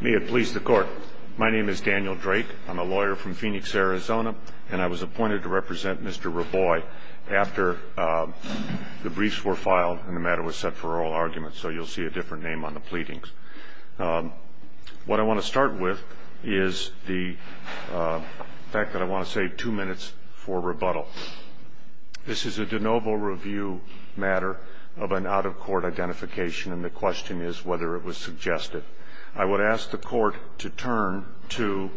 May it please the court. My name is Daniel Drake. I'm a lawyer from Phoenix, Arizona, and I was appointed to represent Mr. Raboy after the briefs were filed and the matter was set for oral argument. So you'll see a different name on the pleadings. What I want to start with is the fact that I want to save two minutes for rebuttal. So this is a de novo review matter of an out-of-court identification, and the question is whether it was suggested. I would ask the court to turn to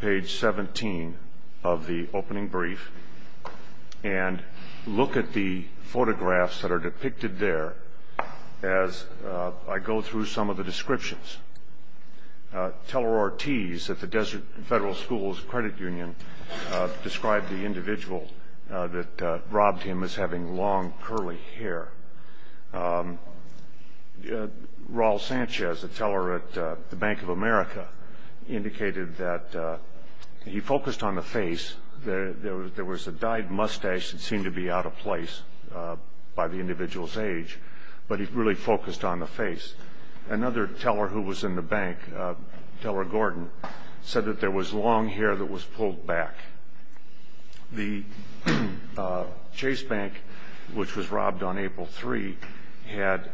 page 17 of the opening brief and look at the photographs that are depicted there as I go through some of the descriptions. Teller Ortiz at the Federal Schools Credit Union described the individual that robbed him as having long, curly hair. Raul Sanchez, a teller at the Bank of America, indicated that he focused on the face. There was a dyed mustache that seemed to be out of place by the individual's age, but he really focused on the face. Another teller who was in the bank, Teller Gordon, said that there was long hair that was pulled back. The Chase Bank, which was robbed on April 3, had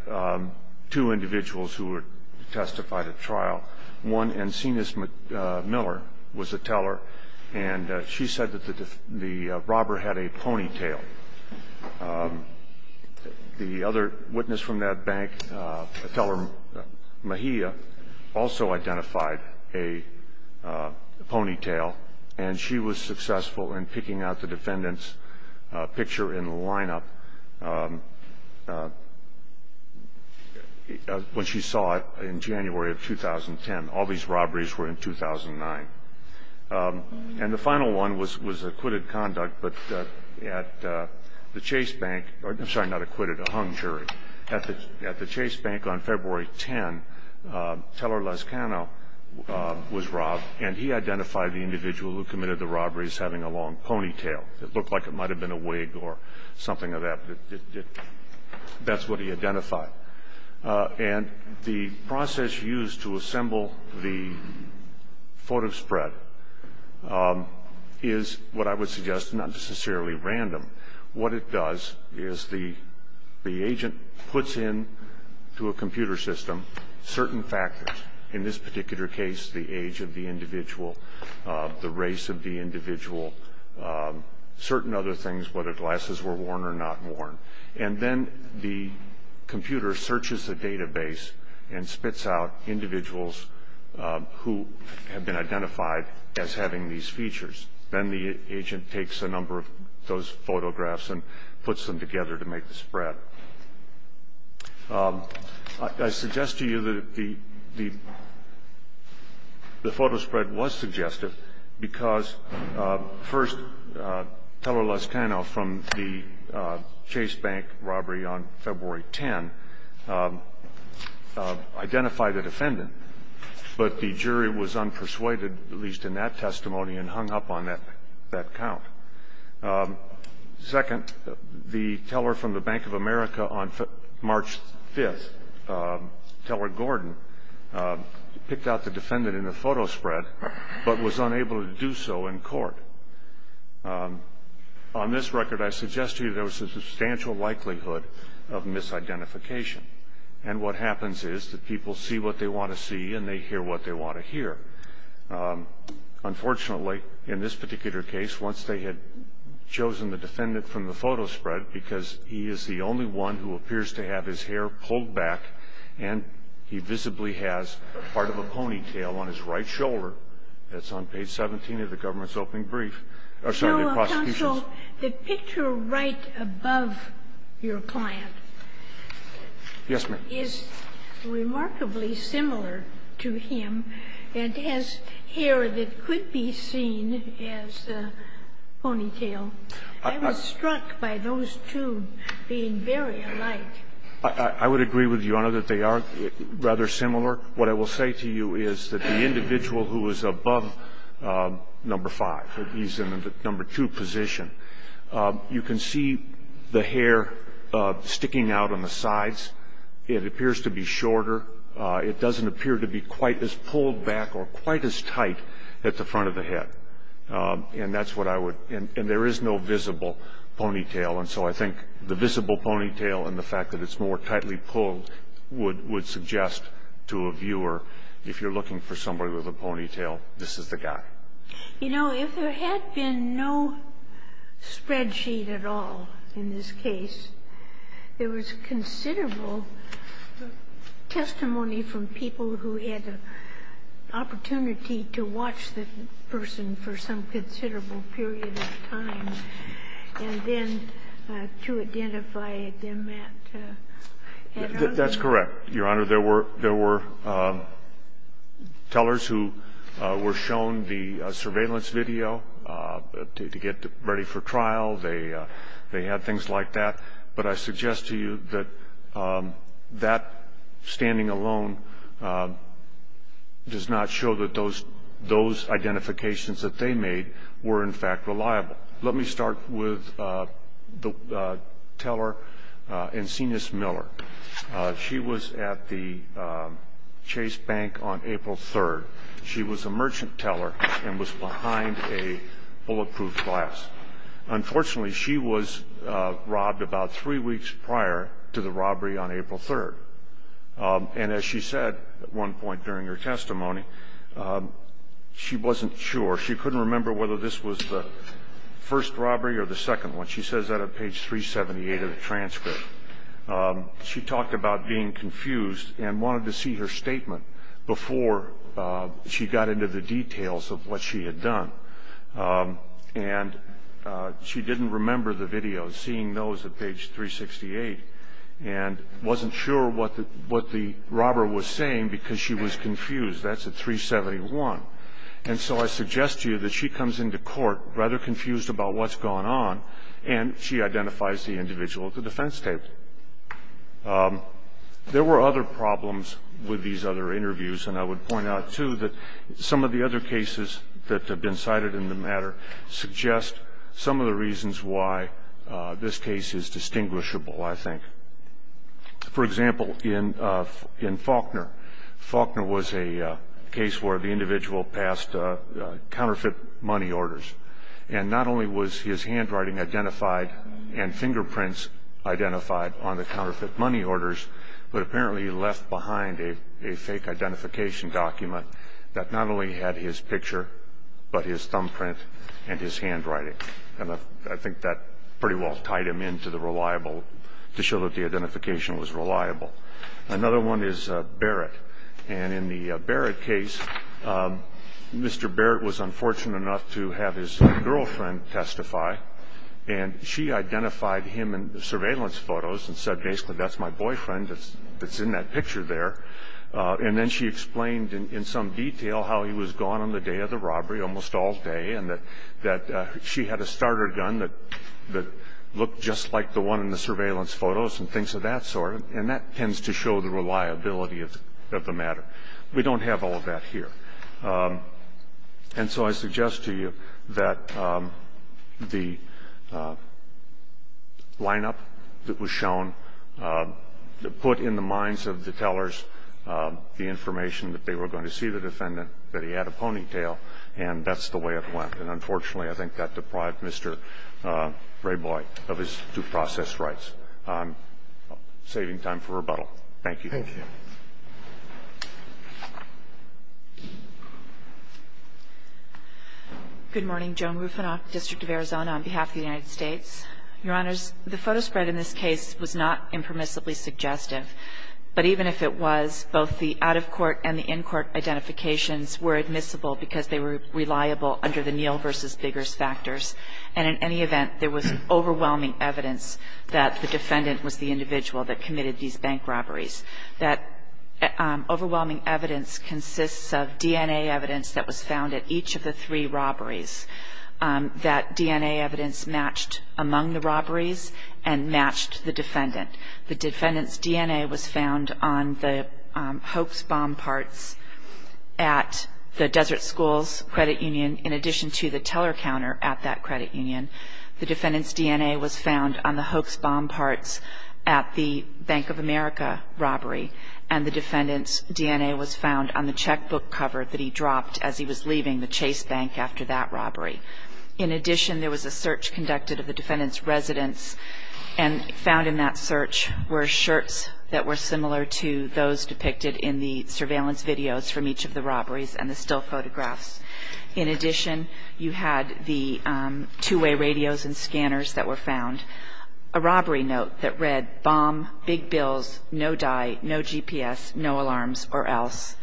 two individuals who were testified at trial. One, Encinas Miller, was a teller, and she said that the robber had a ponytail. The other witness from that bank, Teller Mejia, also identified a ponytail, and she was successful in picking out the defendant's picture in the lineup when she saw it in January of 2010. All these robberies were in 2009. And the final one was acquitted conduct, but at the Chase Bank – I'm sorry, not acquitted, a hung jury. At the Chase Bank on February 10, Teller Lascano was robbed, and he identified the individual who committed the robberies having a long ponytail. It looked like it might have been a wig or something of that. That's what he identified. And the process used to assemble the photo spread is, what I would suggest, not necessarily random. What it does is the agent puts into a computer system certain factors. In this particular case, the age of the individual, the race of the individual, certain other things, whether glasses were worn or not worn. And then the computer searches the database and spits out individuals who have been identified as having these features. Then the agent takes a number of those photographs and puts them together to make the spread. I suggest to you that the photo spread was suggestive because, first, Teller Lascano from the Chase Bank robbery on February 10 identified a defendant, but the jury was unpersuaded, at least in that testimony, and hung up on that count. Second, the teller from the Bank of America on March 5th, Teller Gordon, picked out the defendant in the photo spread but was unable to do so in court. On this record, I suggest to you there was a substantial likelihood of misidentification. And what happens is that people see what they want to see and they hear what they want to hear. Unfortunately, in this particular case, once they had chosen the defendant from the photo spread because he is the only one who appears to have his hair pulled back and he visibly has part of a ponytail on his right shoulder, that's on page 17 of the government's opening brief, or sorry, the prosecution's. Ginsburg. The picture right above your client is remarkably similar to him. It has hair that could be seen as a ponytail. I was struck by those two being very alike. I would agree with you, Your Honor, that they are rather similar. What I will say to you is that the individual who is above number 5, he's in the number 2 position, you can see the hair sticking out on the sides. It appears to be shorter. It doesn't appear to be quite as pulled back or quite as tight at the front of the head. And that's what I would, and there is no visible ponytail, and so I think the visible ponytail and the fact that it's more tightly pulled would suggest to a viewer, if you're looking for somebody with a ponytail, this is the guy. You know, if there had been no spreadsheet at all in this case, there was considerable testimony from people who had the opportunity to watch the person for some considerable period of time, and then to identify them at honor. That's correct, Your Honor. There were tellers who were shown the surveillance video to get ready for trial. They had things like that. But I suggest to you that that standing alone does not show that those identifications that they made were, in fact, reliable. Let me start with the teller Encinas Miller. She was at the Chase Bank on April 3rd. She was a merchant teller and was behind a bulletproof glass. Unfortunately, she was robbed about three weeks prior to the robbery on April 3rd. And as she said at one point during her testimony, she wasn't sure. She couldn't remember whether this was the first robbery or the second one. She says that on page 378 of the transcript. She talked about being confused and wanted to see her statement before she got into the details of what she had done. And she didn't remember the video, seeing those at page 368, and wasn't sure what the robber was saying because she was confused. That's at 371. And so I suggest to you that she comes into court rather confused about what's gone on, and she identifies the individual at the defense table. There were other problems with these other interviews, and I would point out, too, that some of the other cases that have been cited in the matter suggest some of the reasons why this case is distinguishable, I think. For example, in Faulkner, Faulkner was a case where the individual passed counterfeit money orders, and not only was his handwriting identified and fingerprints identified on the counterfeit money orders, but apparently he left behind a fake identification document that not only had his picture but his thumbprint and his handwriting. And I think that pretty well tied him in to show that the identification was reliable. Another one is Barrett. And in the Barrett case, Mr. Barrett was unfortunate enough to have his girlfriend testify, and she identified him in the surveillance photos and said basically that's my boyfriend that's in that picture there. And then she explained in some detail how he was gone on the day of the robbery almost all day and that she had a starter gun that looked just like the one in the surveillance photos and things of that sort, and that tends to show the reliability of the matter. We don't have all of that here. And so I suggest to you that the lineup that was shown put in the minds of the tellers the information that they were going to see the defendant, that he had a ponytail, and that's the way it went. And unfortunately, I think that deprived Mr. Brayboy of his due process rights. I'm saving time for rebuttal. Thank you. Thank you. Good morning. Joan Rufinoff, District of Arizona, on behalf of the United States. Your Honors, the photo spread in this case was not impermissibly suggestive, but even if it was, both the out-of-court and the in-court identifications were admissible because they were reliable under the Neal v. Biggers factors. And in any event, there was overwhelming evidence that the defendant was the individual that committed these bank robberies. That overwhelming evidence consists of DNA evidence that was found at each of the three robberies, that DNA evidence matched among the robberies and matched the defendant. The defendant's DNA was found on the hoax bomb parts at the Desert Schools credit union in addition to the teller counter at that credit union. The defendant's DNA was found on the hoax bomb parts at the Bank of America robbery, and the defendant's DNA was found on the checkbook cover that he dropped as he was leaving the Chase Bank after that robbery. In addition, there was a search conducted of the defendant's residence, and found in that search were shirts that were similar to those depicted in the surveillance videos from each of the robberies and the still photographs. In addition, you had the two-way radios and scanners that were found, a robbery note that read, Bomb, Big Bills, No Die, No GPS, No Alarms or Else,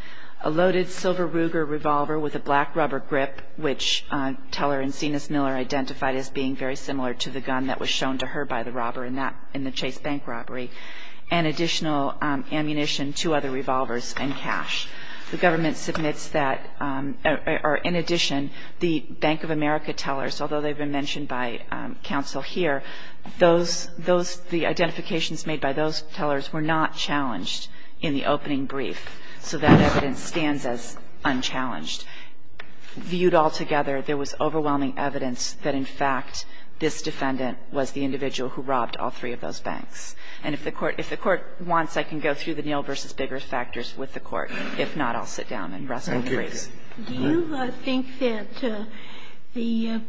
a loaded Silver Ruger revolver with a black rubber grip, which Teller and Sinus Miller identified as being very similar to the gun that was shown to her by the robber in the Chase Bank robbery, and additional ammunition, two other revolvers, and cash. The government submits that, or in addition, the Bank of America tellers, although they've been mentioned by counsel here, those, those, the identifications made by those tellers were not challenged in the opening brief, so that evidence stands as unchallenged. Viewed altogether, there was overwhelming evidence that, in fact, this defendant was the individual who robbed all three of those banks. And if the Court, if the Court wants, I can go through the Neal v. Biggers factors with the Court. If not, I'll sit down and wrestle the case. Do you think that the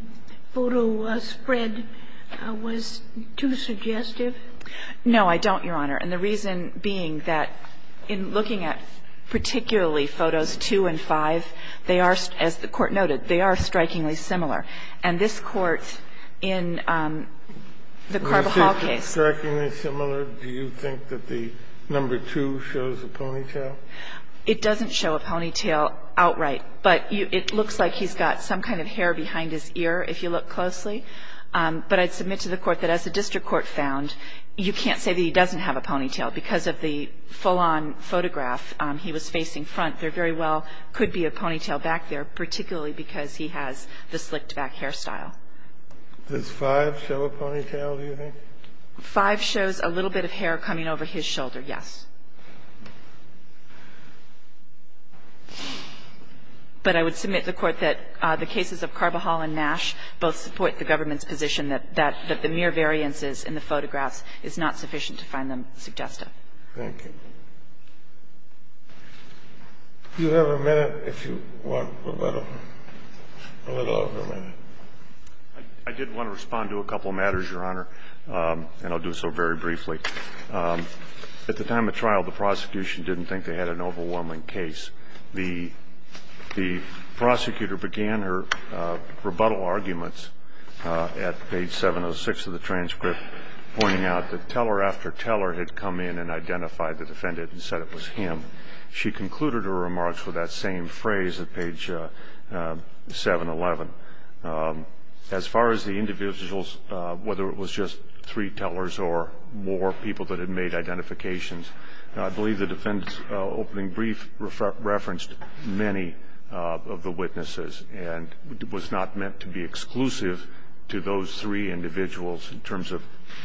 photo spread was too suggestive? No, I don't, Your Honor. And the reason being that in looking at particularly photos 2 and 5, they are, as the Court noted, they are strikingly similar. And this Court in the Carbajal case. Are they strikingly similar? Do you think that the number 2 shows a ponytail? It doesn't show a ponytail outright, but it looks like he's got some kind of hair behind his ear, if you look closely. But I'd submit to the Court that as a district court found, you can't say that he doesn't have a ponytail because of the full-on photograph. He was facing front. There very well could be a ponytail back there, particularly because he has the slicked-back hairstyle. Does 5 show a ponytail, do you think? 5 shows a little bit of hair coming over his shoulder, yes. But I would submit to the Court that the cases of Carbajal and Nash both support the government's position that the mere variances in the photographs is not sufficient to find them suggestive. Thank you. You have a minute, if you want, Roberto, a little over a minute. I did want to respond to a couple of matters, Your Honor. And I'll do so very briefly. At the time of trial, the prosecution didn't think they had an overwhelming case. The prosecutor began her rebuttal arguments at page 706 of the transcript, pointing out that teller after teller had come in and identified the defendant and said it was him. She concluded her remarks with that same phrase at page 711. As far as the individuals, whether it was just three tellers or more people that had made identifications, I believe the defendant's opening brief referenced many of the witnesses and was not meant to be exclusive to those three individuals in terms of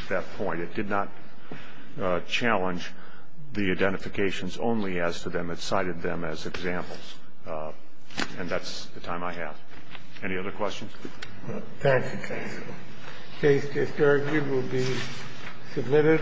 that point. It did not challenge the identifications only as to them. It cited them as examples. And that's the time I have. Any other questions? Thank you, Justice. The case, Judge, will be submitted.